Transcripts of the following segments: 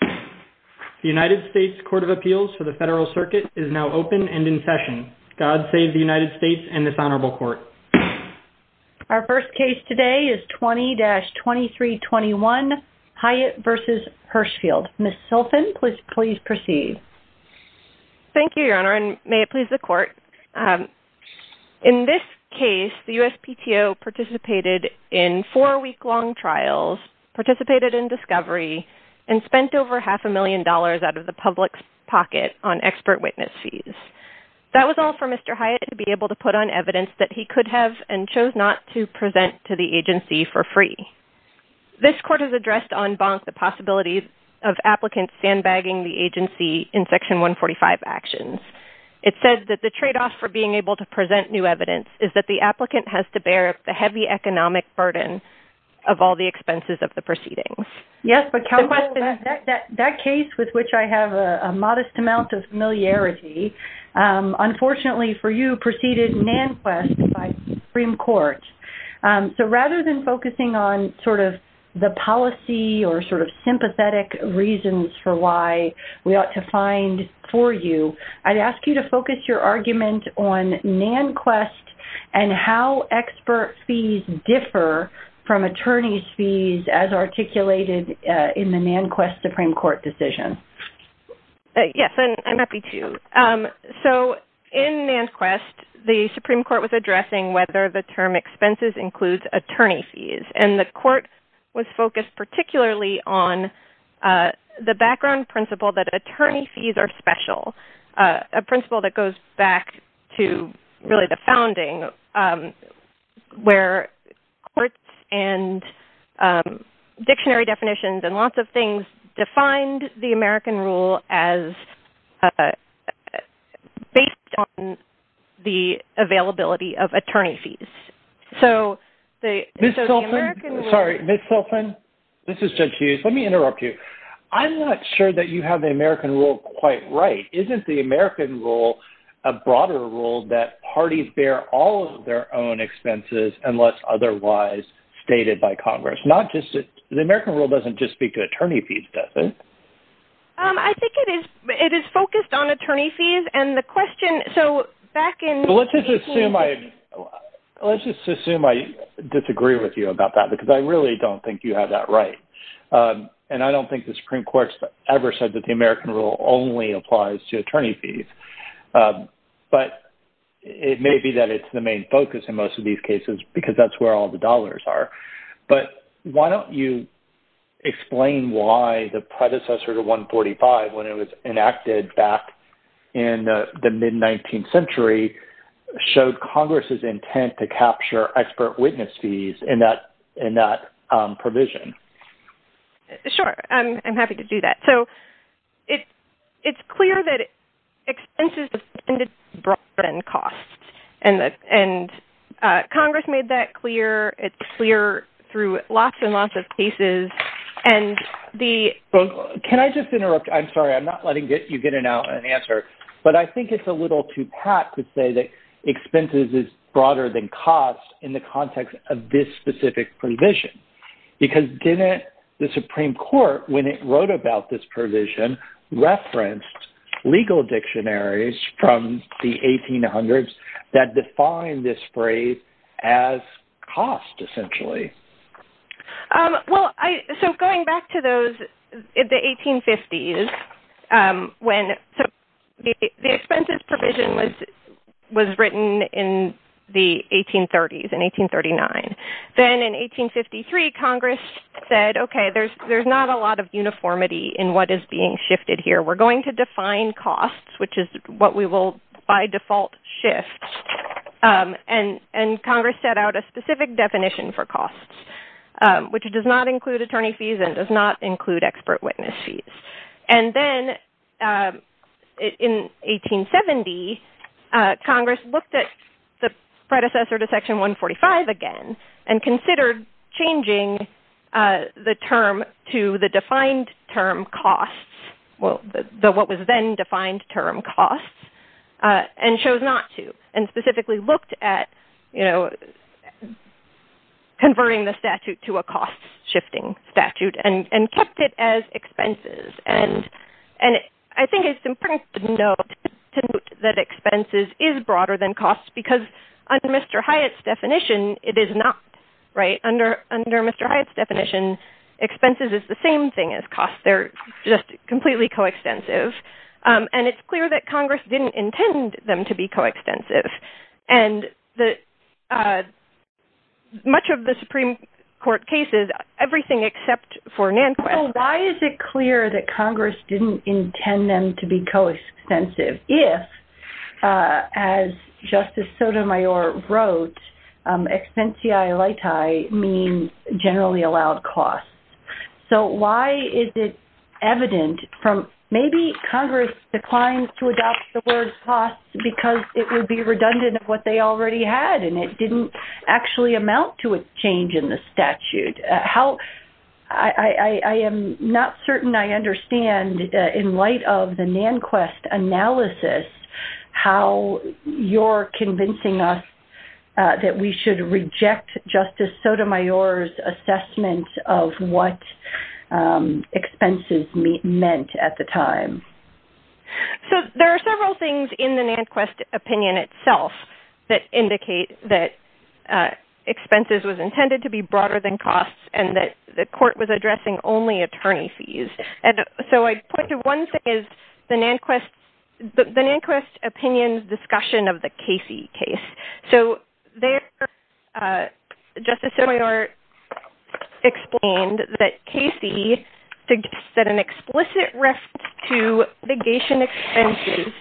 The United States Court of Appeals for the Federal Circuit is now open and in session. God save the United States and this Honorable Court. Our first case today is 20-2321 Hyatt v. Hirshfeld. Ms. Silfen, please proceed. Thank you, Your Honor, and may it please the Court. In this case, the USPTO participated in four week-long trials, participated in discovery, and spent over half a million dollars out of the public's pocket on expert witness fees. That was all for Mr. Hyatt to be able to put on evidence that he could have and chose not to present to the agency for free. This Court has addressed en banc the possibility of applicants sandbagging the agency in Section 145 actions. It says that the tradeoff for being able to present new evidence is that the applicant has to bear the heavy economic burden of all the expenses of the proceedings. Yes, but counsel, that case with which I have a modest amount of familiarity, unfortunately for you preceded NanQuest by Supreme Court. So rather than focusing on sort of the policy or sort of sympathetic reasons for why we ought to find for you, I'd ask you to focus your argument on NanQuest and how expert fees differ from attorney's fees as articulated in the NanQuest Supreme Court decision. Yes, and I'm happy to. So in NanQuest, the Supreme Court was addressing whether the term expenses includes attorney fees, and the Court was focused particularly on the background principle that attorney fees are special, a principle that goes back to really the founding where courts and dictionary definitions and lots of things defined the American rule as based on the availability of attorney fees. So the American rule... Ms. Silfen, sorry, Ms. Silfen, this is Judge Hughes. Let me interrupt you. I'm not sure that you have the American rule quite right. Isn't the American rule a broader rule that parties bear all of their own expenses unless otherwise stated by Congress? The American rule doesn't just speak to attorney fees, does it? I think it is focused on attorney fees, and the question... So let's just assume I disagree with you about that, because I really don't think you have that right, and I don't think the Supreme Court's ever said that the American rule only applies to attorney fees. But it may be that it's the main focus in most of these cases because that's where all the dollars are. But why don't you explain why the predecessor to 145, when it was enacted back in the mid-19th century, showed Congress's intent to capture expert witness fees in that provision? Sure, I'm happy to do that. So it's clear that expenses have been brought in costs, and Congress made that clear. It's clear through lots and lots of cases. Can I just interrupt? I'm sorry, I'm not letting you get an answer. But I think it's a little too pat to say that expenses is broader than cost in the context of this specific provision, because didn't the Supreme Court, when it wrote about this provision, reference legal dictionaries from the 1800s that defined this phrase as cost, essentially? So going back to the 1850s, the expenses provision was written in the 1830s, in 1839. Then in 1853, Congress said, okay, there's not a lot of uniformity in what is being shifted here. We're going to define costs, which is what we will, by default, shift. And Congress set out a specific definition for costs, which does not include attorney fees and does not include expert witness fees. And then in 1870, Congress looked at the predecessor to Section 145 again and considered changing the term to the defined term costs, what was then defined term costs, and chose not to. And specifically looked at converting the statute to a cost-shifting statute and kept it as expenses. And I think it's important to note that expenses is broader than cost, because under Mr. Hyatt's definition, it is not. Under Mr. Hyatt's definition, expenses is the same thing as cost. They're just completely coextensive. And it's clear that Congress didn't intend them to be coextensive. And much of the Supreme Court cases, everything except for Nancwest. So why is it clear that Congress didn't intend them to be coextensive if, as Justice Sotomayor wrote, extensiae laetiae means generally allowed costs? So why is it evident from maybe Congress declined to adopt the word costs because it would be redundant of what they already had and it didn't actually amount to a change in the statute? I am not certain I understand, in light of the Nancwest analysis, how you're convincing us that we should reject Justice Sotomayor's assessment of what expenses meant at the time. So there are several things in the Nancwest opinion itself that indicate that expenses was intended to be broader than costs and that the court was addressing only attorney fees. And so I'd point to one thing is the Nancwest opinion's discussion of the Casey case. So there Justice Sotomayor explained that Casey said an explicit reference to negation expenses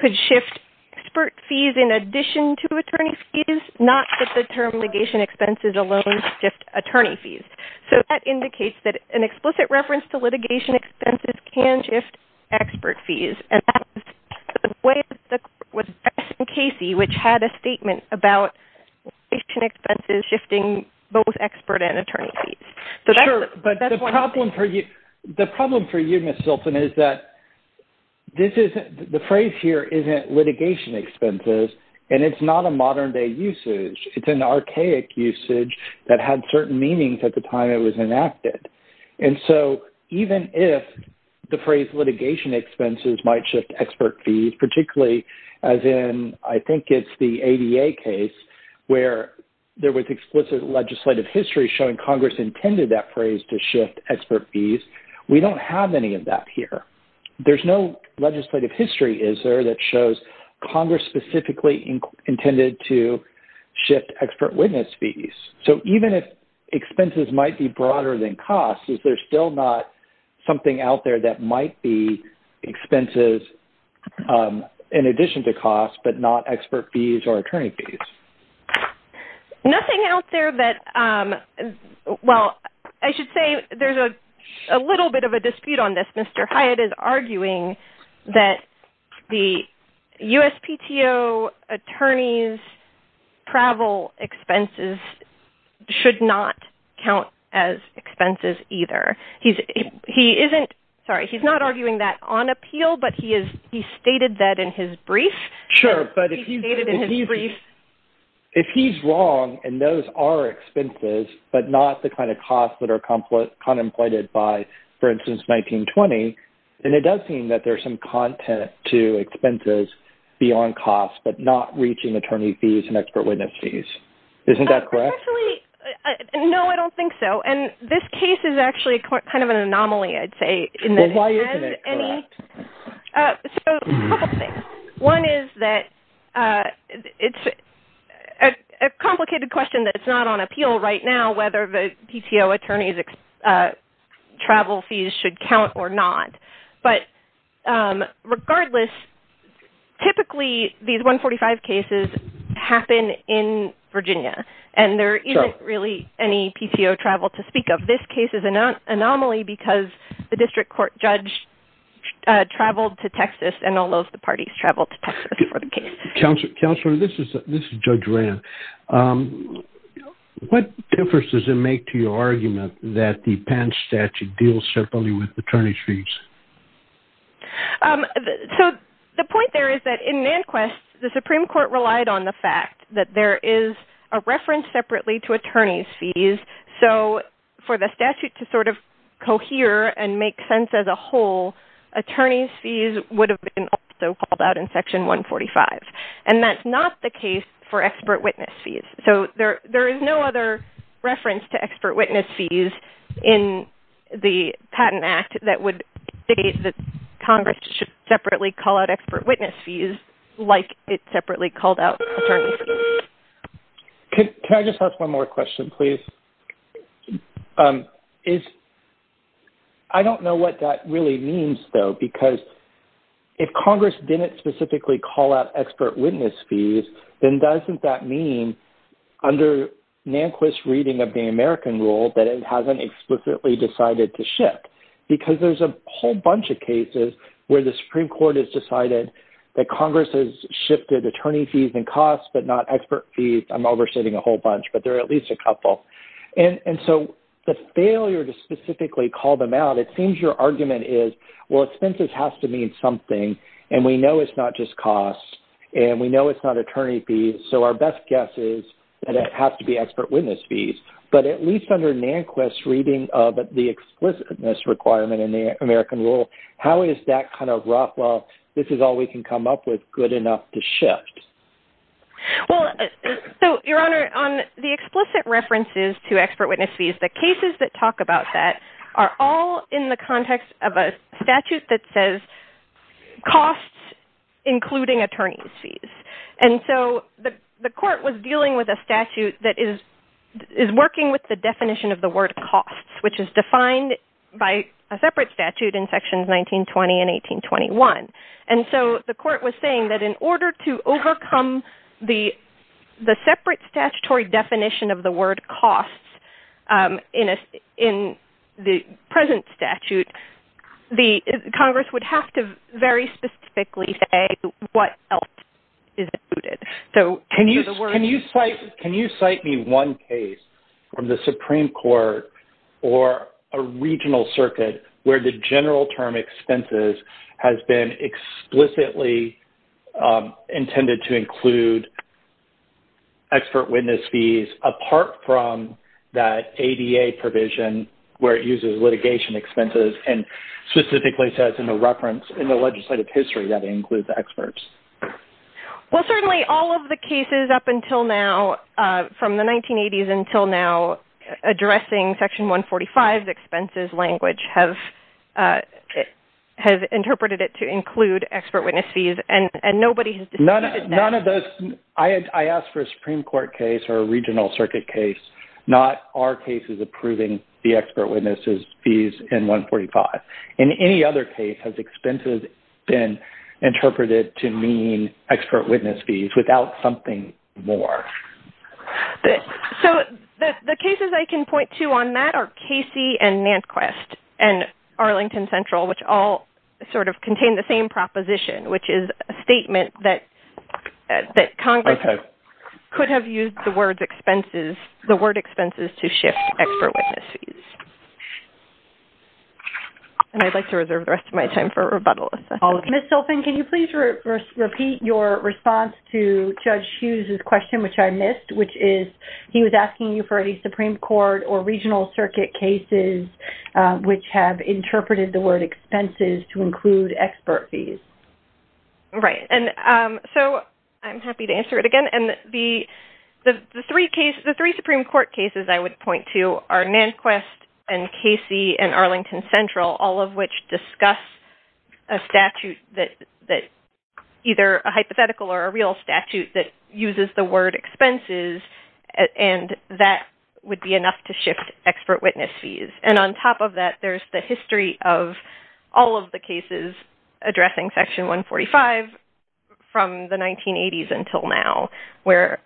could shift expert fees in addition to attorney fees, not that the term negation expenses alone shift attorney fees. So that indicates that an explicit reference to litigation expenses can shift expert fees. And that was the way it was addressed in Casey, which had a statement about litigation expenses shifting both expert and attorney fees. Sure, but the problem for you, Ms. Zilsen, is that the phrase here isn't litigation expenses and it's not a modern-day usage. It's an archaic usage that had certain meanings at the time it was enacted. And so even if the phrase litigation expenses might shift expert fees, particularly as in I think it's the ADA case where there was explicit legislative history showing Congress intended that phrase to shift expert fees, we don't have any of that here. There's no legislative history, is there, that shows Congress specifically intended to shift expert witness fees. So even if expenses might be broader than costs, is there still not something out there that might be expenses in addition to costs but not expert fees or attorney fees? Nothing out there that – well, I should say there's a little bit of a dispute on this. Mr. Hyatt is arguing that the USPTO attorney's travel expenses should not count as expenses either. He's not arguing that on appeal, but he stated that in his brief. Sure, but if he's wrong and those are expenses but not the kind of costs that are contemplated by, for instance, 1920, then it does seem that there's some content to expenses beyond costs but not reaching attorney fees and expert witness fees. Isn't that correct? Actually, no, I don't think so. And this case is actually kind of an anomaly, I'd say, in that it has any – Well, why isn't it correct? So a couple things. One is that it's a complicated question that's not on appeal right now whether the PTO attorney's travel fees should count or not. But regardless, typically these 145 cases happen in Virginia and there isn't really any PTO travel to speak of. So this case is an anomaly because the district court judge traveled to Texas and all of the parties traveled to Texas for the case. Counselor, this is Judge Rand. What difference does it make to your argument that the Penn statute deals separately with attorney's fees? So the point there is that in Nanquist, the Supreme Court relied on the fact that there is a reference separately to attorney's fees. So for the statute to sort of cohere and make sense as a whole, attorney's fees would have been also called out in Section 145. And that's not the case for expert witness fees. So there is no other reference to expert witness fees in the Patent Act that would state that Congress should separately call out expert witness fees like it separately called out attorney's fees. Can I just ask one more question, please? I don't know what that really means, though, because if Congress didn't specifically call out expert witness fees, then doesn't that mean under Nanquist's reading of the American rule that it hasn't explicitly decided to ship? Because there's a whole bunch of cases where the Supreme Court has decided that Congress has shifted attorney fees and costs but not expert fees. I'm overstating a whole bunch, but there are at least a couple. And so the failure to specifically call them out, it seems your argument is, well, expenses have to mean something, and we know it's not just costs, and we know it's not attorney fees, so our best guess is that it has to be expert witness fees. But at least under Nanquist's reading of the explicitness requirement in the American rule, how is that kind of rough? Well, this is all we can come up with good enough to shift. Well, so, Your Honor, on the explicit references to expert witness fees, the cases that talk about that are all in the context of a statute that says costs including attorney's fees. And so the court was dealing with a statute that is working with the definition of the word costs, which is defined by a separate statute in sections 1920 and 1821. And so the court was saying that in order to overcome the separate statutory definition of the word costs in the present statute, Congress would have to very specifically say what else is included. Can you cite me one case from the Supreme Court or a regional circuit where the general term expenses has been explicitly intended to include expert witness fees apart from that ADA provision where it uses litigation expenses and specifically says in the reference in the legislative history that it includes experts? Well, certainly, all of the cases up until now, from the 1980s until now, addressing Section 145, the expenses language has interpreted it to include expert witness fees and nobody has disputed that. None of those. I asked for a Supreme Court case or a regional circuit case, not our cases approving the expert witness fees in 145. In any other case, has expenses been interpreted to mean expert witness fees without something more? So the cases I can point to on that are Casey and Nantquest and Arlington Central, which all sort of contain the same proposition, which is a statement that Congress could have used the word expenses to shift expert witness fees. And I'd like to reserve the rest of my time for rebuttal. Ms. Silfen, can you please repeat your response to Judge Hughes' question, which I missed, which is he was asking you for any Supreme Court or regional circuit cases which have interpreted the word expenses to include expert fees. Right, and so I'm happy to answer it again. And the three Supreme Court cases I would point to are Nantquest and Casey and Arlington Central, all of which discuss a statute that either a hypothetical or a real statute that uses the word expenses, and that would be enough to shift expert witness fees. And on top of that, there's the history of all of the cases addressing Section 145 from the 1980s until now, where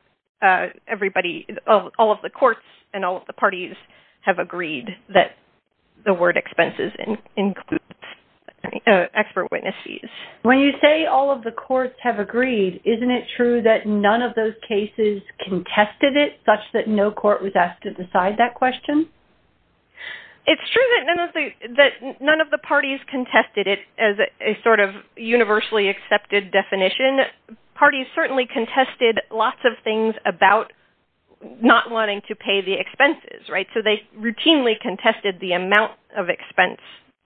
all of the courts and all of the parties have agreed that the word expenses include expert witness fees. When you say all of the courts have agreed, isn't it true that none of those cases contested it, such that no court was asked to decide that question? It's true that none of the parties contested it as a sort of universally accepted definition. But parties certainly contested lots of things about not wanting to pay the expenses, right? So they routinely contested the amount of expense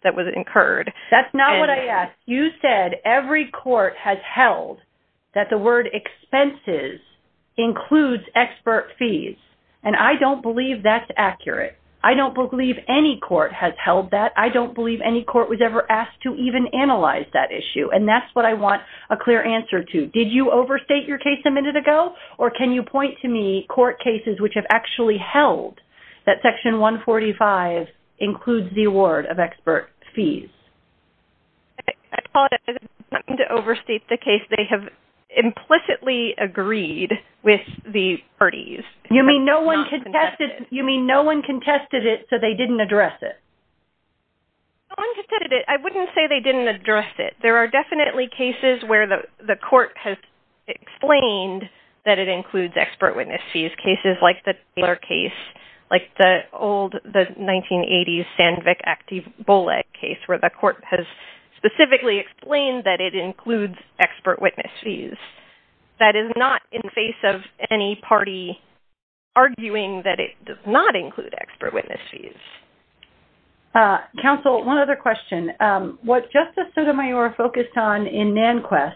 that was incurred. That's not what I asked. You said every court has held that the word expenses includes expert fees, and I don't believe that's accurate. I don't believe any court has held that. I don't believe any court was ever asked to even analyze that issue, and that's what I want a clear answer to. Did you overstate your case a minute ago, or can you point to me court cases which have actually held that Section 145 includes the award of expert fees? I apologize. I didn't mean to overstate the case. They have implicitly agreed with the parties. You mean no one contested it, so they didn't address it? I wouldn't say they didn't address it. There are definitely cases where the court has explained that it includes expert witness fees, cases like the Taylor case, like the old 1980 Sandvik-Activ-Boleg case where the court has specifically explained that it includes expert witness fees. That is not in the face of any party arguing that it does not include expert witness fees. Counsel, one other question. What Justice Sotomayor focused on in Nanquist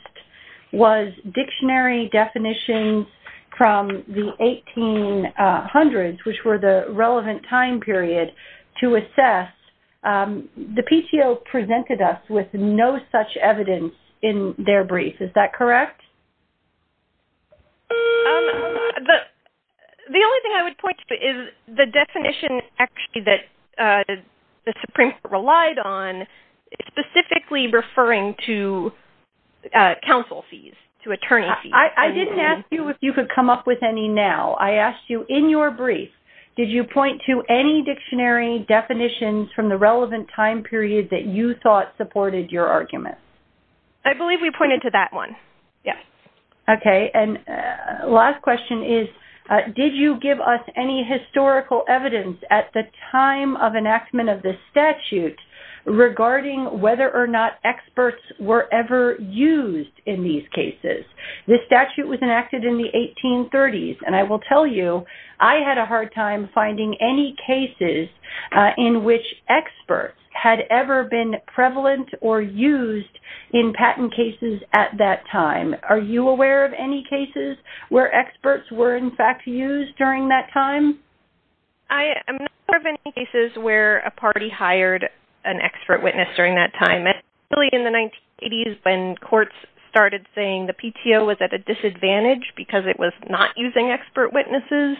was dictionary definitions from the 1800s, which were the relevant time period to assess. The PTO presented us with no such evidence in their brief. Is that correct? The only thing I would point to is the definition actually that the Supreme Court relied on, specifically referring to counsel fees, to attorney fees. I didn't ask you if you could come up with any now. I asked you in your brief, did you point to any dictionary definitions from the relevant time period that you thought supported your argument? I believe we pointed to that one, yes. Okay, and last question is, did you give us any historical evidence at the time of enactment of the statute regarding whether or not experts were ever used in these cases? This statute was enacted in the 1830s, and I will tell you I had a hard time finding any cases in which experts had ever been prevalent or used in patent cases at that time. Are you aware of any cases where experts were in fact used during that time? I am not aware of any cases where a party hired an expert witness during that time. It was really in the 1980s when courts started saying the PTO was at a disadvantage because it was not using expert witnesses,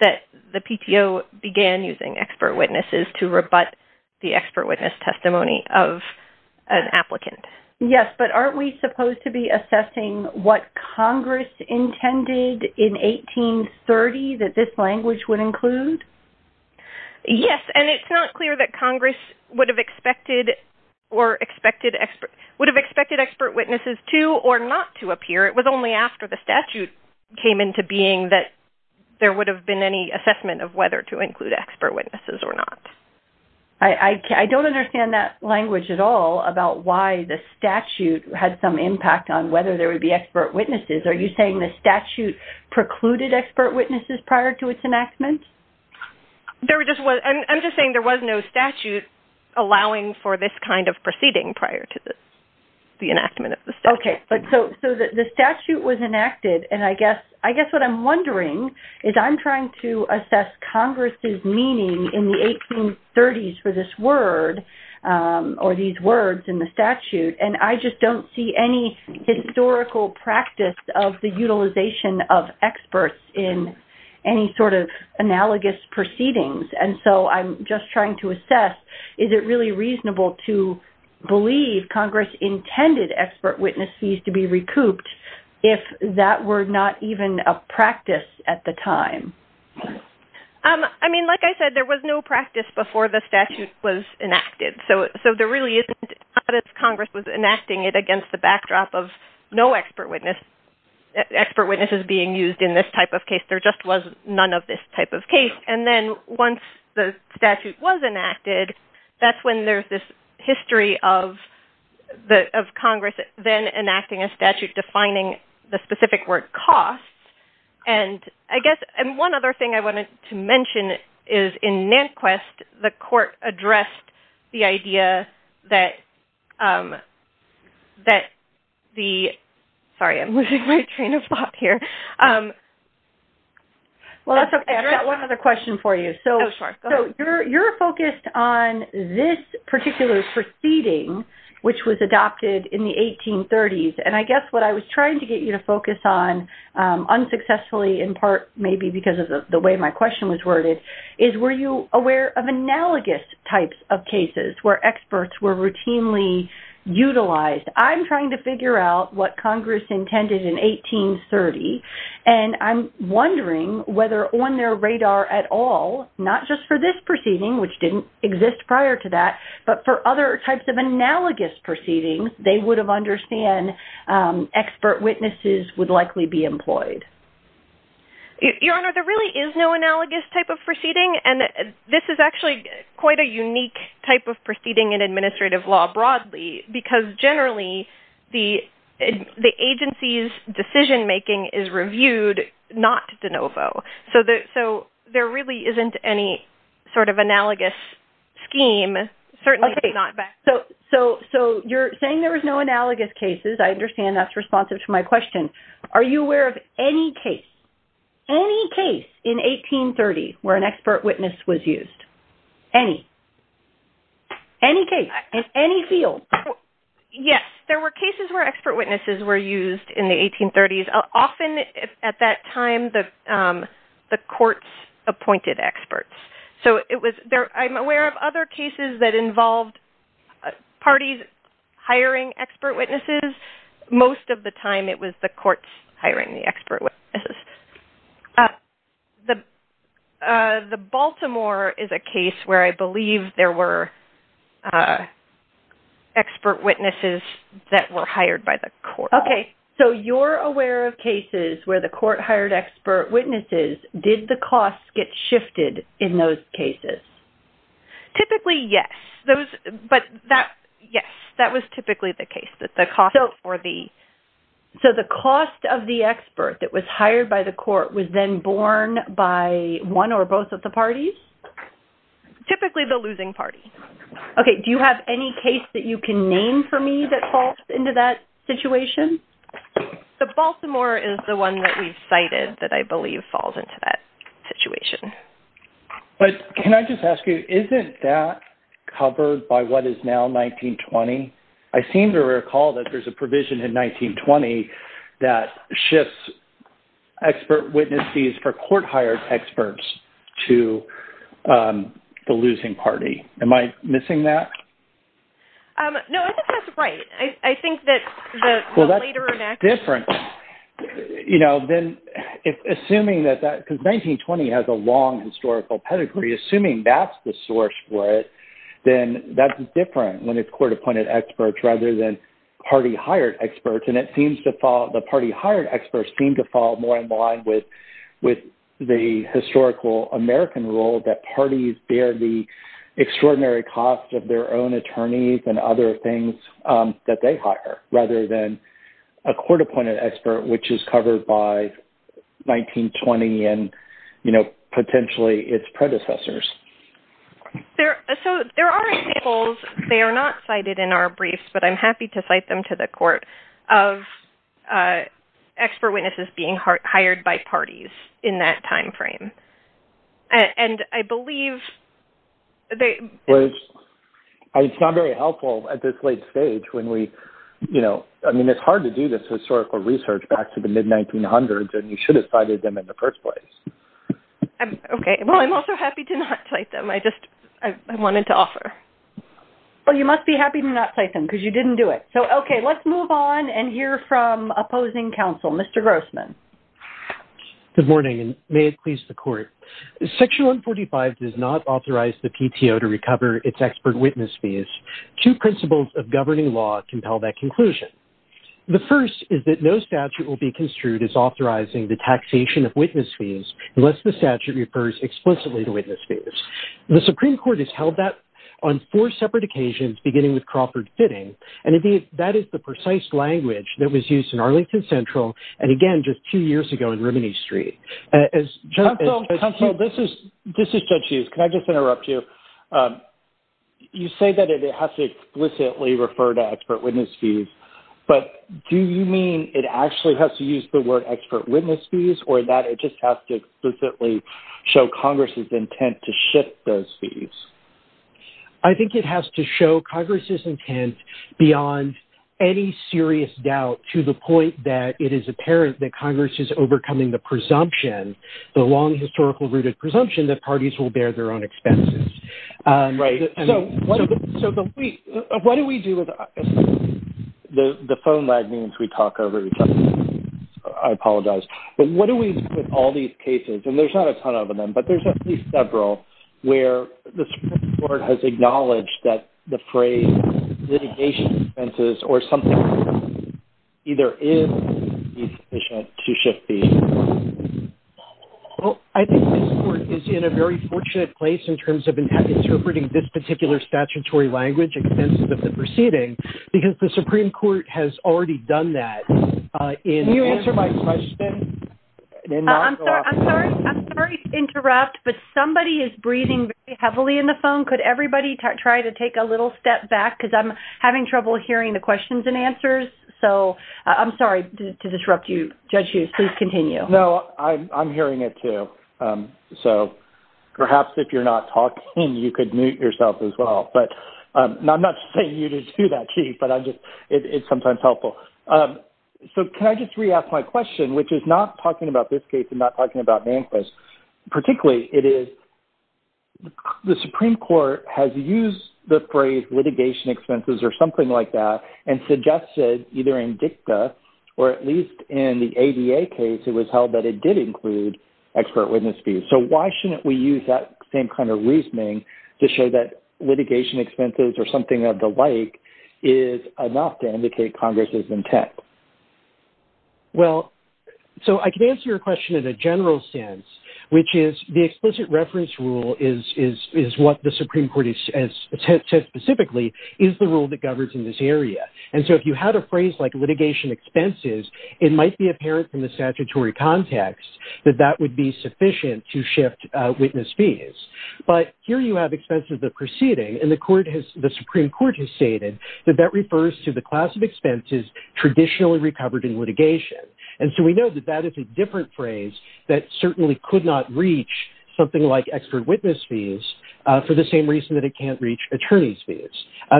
that the PTO began using expert witnesses to rebut the expert witness testimony of an applicant. Yes, but aren't we supposed to be assessing what Congress intended in 1830 that this language would include? Yes, and it's not clear that Congress would have expected expert witnesses to or not to appear. It was only after the statute came into being that there would have been any assessment of whether to include expert witnesses or not. I don't understand that language at all about why the statute had some impact on whether there would be expert witnesses. Are you saying the statute precluded expert witnesses prior to its enactment? I'm just saying there was no statute allowing for this kind of proceeding prior to the enactment of the statute. Okay, so the statute was enacted, and I guess what I'm wondering is I'm trying to assess Congress's meaning in the 1830s for this word or these words in the statute, and I just don't see any historical practice of the utilization of experts in any sort of analogous proceedings. And so I'm just trying to assess, is it really reasonable to believe Congress intended expert witnesses to be recouped if that were not even a practice at the time? I mean, like I said, there was no practice before the statute was enacted, so there really isn't as Congress was enacting it against the backdrop of no expert witnesses being used in this type of case. There just was none of this type of case. And then once the statute was enacted, that's when there's this history of Congress then enacting a statute defining the specific word costs. And one other thing I wanted to mention is in NantQuest the court addressed the idea that the... Sorry, I'm losing my train of thought here. Well, that's okay, I've got one other question for you. So you're focused on this particular proceeding which was adopted in the 1830s, and I guess what I was trying to get you to focus on, unsuccessfully in part maybe because of the way my question was worded, is were you aware of analogous types of cases where experts were routinely utilized? I'm trying to figure out what Congress intended in 1830, and I'm wondering whether on their radar at all, not just for this proceeding, which didn't exist prior to that, but for other types of analogous proceedings, they would have understand expert witnesses would likely be employed. Your Honor, there really is no analogous type of proceeding, and this is actually quite a unique type of proceeding in administrative law broadly because generally the agency's decision-making is reviewed, not de novo. So there really isn't any sort of analogous scheme. Okay, so you're saying there was no analogous cases. I understand that's responsive to my question. Are you aware of any case, any case in 1830 where an expert witness was used? Any? Any case in any field? Yes, there were cases where expert witnesses were used in the 1830s. Often at that time the courts appointed experts. So I'm aware of other cases that involved parties hiring expert witnesses. Most of the time it was the courts hiring the expert witnesses. The Baltimore is a case where I believe there were expert witnesses that were hired by the courts. Okay, so you're aware of cases where the court hired expert witnesses. Did the costs get shifted in those cases? Typically, yes. Yes, that was typically the case. So the cost of the expert that was hired by the court was then borne by one or both of the parties? Typically the losing party. Okay, do you have any case that you can name for me that falls into that situation? The Baltimore is the one that we've cited that I believe falls into that situation. But can I just ask you, isn't that covered by what is now 1920? I seem to recall that there's a provision in 1920 that shifts expert witnesses for court-hired experts to the losing party. Am I missing that? No, I think that's right. I think that the later enactment... Well, that's different. You know, then assuming that that... Because 1920 has a long historical pedigree. Assuming that's the source for it, then that's different when it's court-appointed experts rather than party-hired experts. And it seems to fall... The party-hired experts seem to fall more in line with the historical American rule that parties bear the extraordinary cost of their own attorneys and other things that they hire rather than a court-appointed expert, which is covered by 1920 and, you know, potentially its predecessors. So there are examples. They are not cited in our briefs, but I'm happy to cite them to the court, of expert witnesses being hired by parties in that time frame. And I believe... It's not very helpful at this late stage when we, you know... I mean, it's hard to do this historical research back to the mid-1900s, and you should have cited them in the first place. Okay. Well, I'm also happy to not cite them. I just wanted to offer. Well, you must be happy to not cite them because you didn't do it. So, okay, let's move on and hear from opposing counsel, Mr. Grossman. Good morning, and may it please the court. Section 145 does not authorize the PTO to recover its expert witness fees. Two principles of governing law compel that conclusion. The first is that no statute will be construed as authorizing the taxation of witness fees unless the statute refers explicitly to witness fees. The Supreme Court has held that on four separate occasions, beginning with Crawford Fitting, and, indeed, that is the precise language that was used in Arlington Central and, again, just two years ago in Rimini Street. Counsel, this is Judge Hughes. Can I just interrupt you? You say that it has to explicitly refer to expert witness fees, but do you mean it actually has to use the word expert witness fees or that it just has to explicitly show Congress' intent to shift those fees? I think it has to show Congress' intent beyond any serious doubt to the point that it is apparent that Congress is overcoming the presumption, the long historical rooted presumption, that parties will bear their own expenses. Right. So what do we do with... The phone lag means we talk over each other. I apologize. But what do we do with all these cases? And there's not a ton of them, but there's at least several where the Supreme Court has acknowledged that the phrase litigation expenses or something either is insufficient to shift these. Well, I think this court is in a very fortunate place in terms of interpreting this particular statutory language expenses of the proceeding because the Supreme Court has already done that. Can you answer my question? I'm sorry to interrupt, but somebody is breathing heavily in the phone. Could everybody try to take a little step back because I'm having trouble hearing the questions and answers. So I'm sorry to disrupt you, Judge Hughes. Please continue. No, I'm hearing it too. So perhaps if you're not talking, you could mute yourself as well. I'm not saying you to do that, Chief, but it's sometimes helpful. So can I just re-ask my question, which is not talking about this case and not talking about Mancos, particularly it is the Supreme Court has used the phrase litigation expenses or something like that and suggested either in dicta or at least in the ADA case it was held that it did include expert witness fees. So why shouldn't we use that same kind of reasoning to show that litigation expenses or something of the like is enough to indicate Congress's intent? Well, so I can answer your question in a general sense, which is the explicit reference rule is what the Supreme Court has said specifically is the rule that governs in this area. And so if you had a phrase like litigation expenses, it might be apparent from the statutory context that that would be sufficient to shift witness fees. But here you have expenses of proceeding and the Supreme Court has stated that that refers to the class of expenses traditionally recovered in litigation. And so we know that that is a different phrase that certainly could not reach something like expert witness fees for the same reason that it can't reach attorney's fees.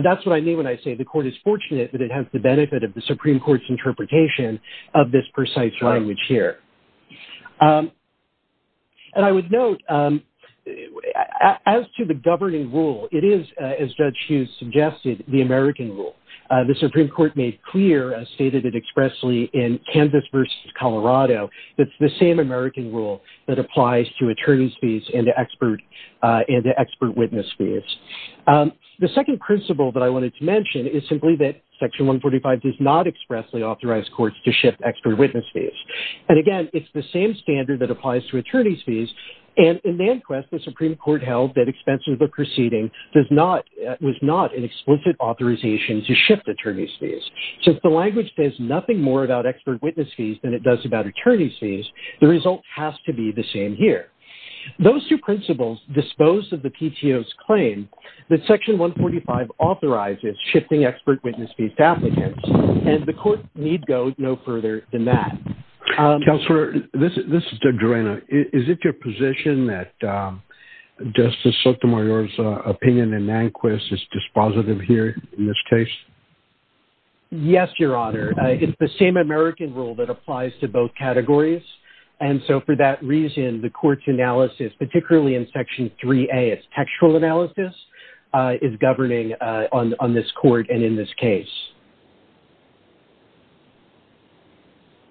That's what I mean when I say the court is fortunate that it has the benefit of the Supreme Court's interpretation of this precise language here. And I would note, as to the governing rule, it is, as Judge Hughes suggested, the American rule. The Supreme Court made clear, as stated expressly in Kansas v. Colorado, that it's the same American rule that applies to attorney's fees and to expert witness fees. The second principle that I wanted to mention is simply that Section 145 does not expressly authorize courts to shift expert witness fees. And again, it's the same standard that applies to attorney's fees. And in ManQuest, the Supreme Court held that expenses of proceeding was not an explicit authorization to shift attorney's fees. Since the language says nothing more about expert witness fees than it does about attorney's fees, the result has to be the same here. Those two principles dispose of the PTO's claim that Section 145 authorizes shifting expert witness fees to applicants. And the court need go no further than that. Counselor, this is Doug Dorena. Is it your position that Justice Sotomayor's opinion in ManQuest is dispositive here in this case? Yes, Your Honor. It's the same American rule that applies to both categories. And so for that reason, the court's analysis, particularly in Section 3A, it's textual analysis, is governing on this court and in this case.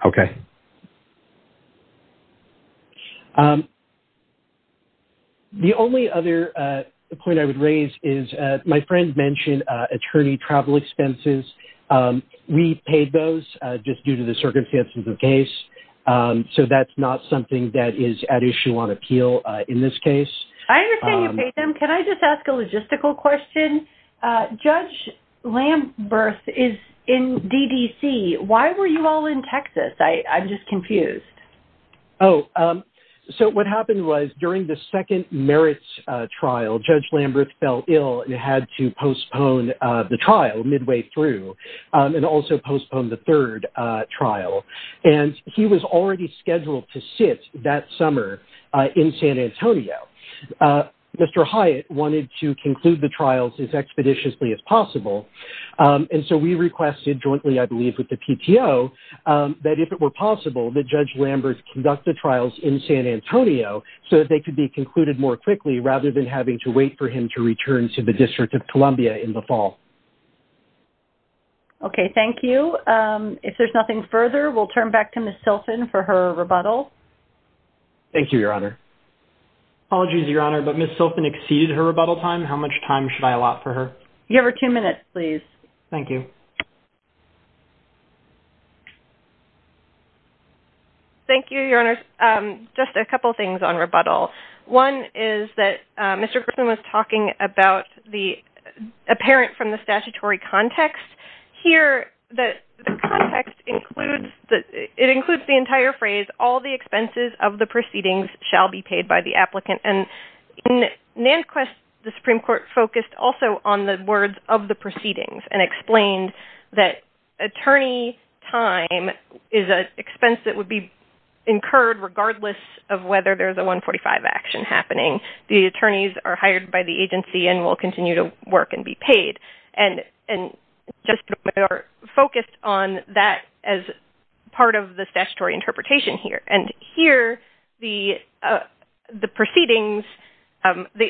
Okay. The only other point I would raise is my friend mentioned attorney travel expenses. We paid those just due to the circumstances of the case. So that's not something that is at issue on appeal in this case. I understand you paid them. Can I just ask a logistical question? Judge Lamberth is in DDC. Why were you all in Texas? I'm just confused. Oh, so what happened was during the second merits trial, Judge Lamberth fell ill and had to postpone the trial midway through and also postpone the third trial. And he was already scheduled to sit that summer in San Antonio. Mr. Hyatt wanted to conclude the trials as expeditiously as possible. And so we requested jointly, I believe, with the PTO, that if it were possible, that Judge Lamberth conduct the trials in San Antonio so that they could be concluded more quickly rather than having to wait for him to return to the District of Columbia in the fall. Okay, thank you. If there's nothing further, we'll turn back to Ms. Silfen for her rebuttal. Thank you, Your Honor. Apologies, Your Honor, but Ms. Silfen exceeded her rebuttal time. How much time should I allot for her? You have two minutes, please. Thank you. Thank you, Your Honors. Just a couple things on rebuttal. One is that Mr. Grissom was talking about the apparent from the statutory context. Here, the context includes the entire phrase, all the expenses of the proceedings shall be paid by the applicant. And in Nanquist, the Supreme Court focused also on the words of the proceedings and explained that attorney time is an expense that would be incurred regardless of whether there's a 145 action happening. The attorneys are hired by the agency and will continue to work and be paid. And just focused on that as part of the statutory interpretation here. And here, the proceedings, the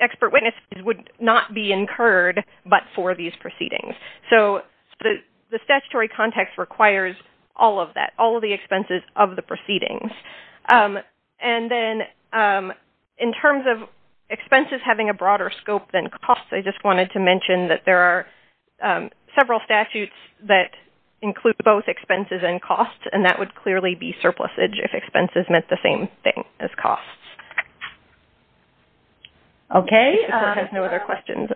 expert witnesses would not be incurred but for these proceedings. So the statutory context requires all of that, all of the expenses of the proceedings. And then in terms of expenses having a broader scope than costs, I just wanted to mention that there are several statutes that include both expenses and costs and that would clearly be surplusage if expenses meant the same thing as costs. Okay. The court has no other questions.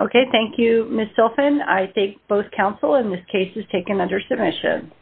Okay, thank you, Ms. Silfen. I think both counsel and Ms. Case have taken under submission.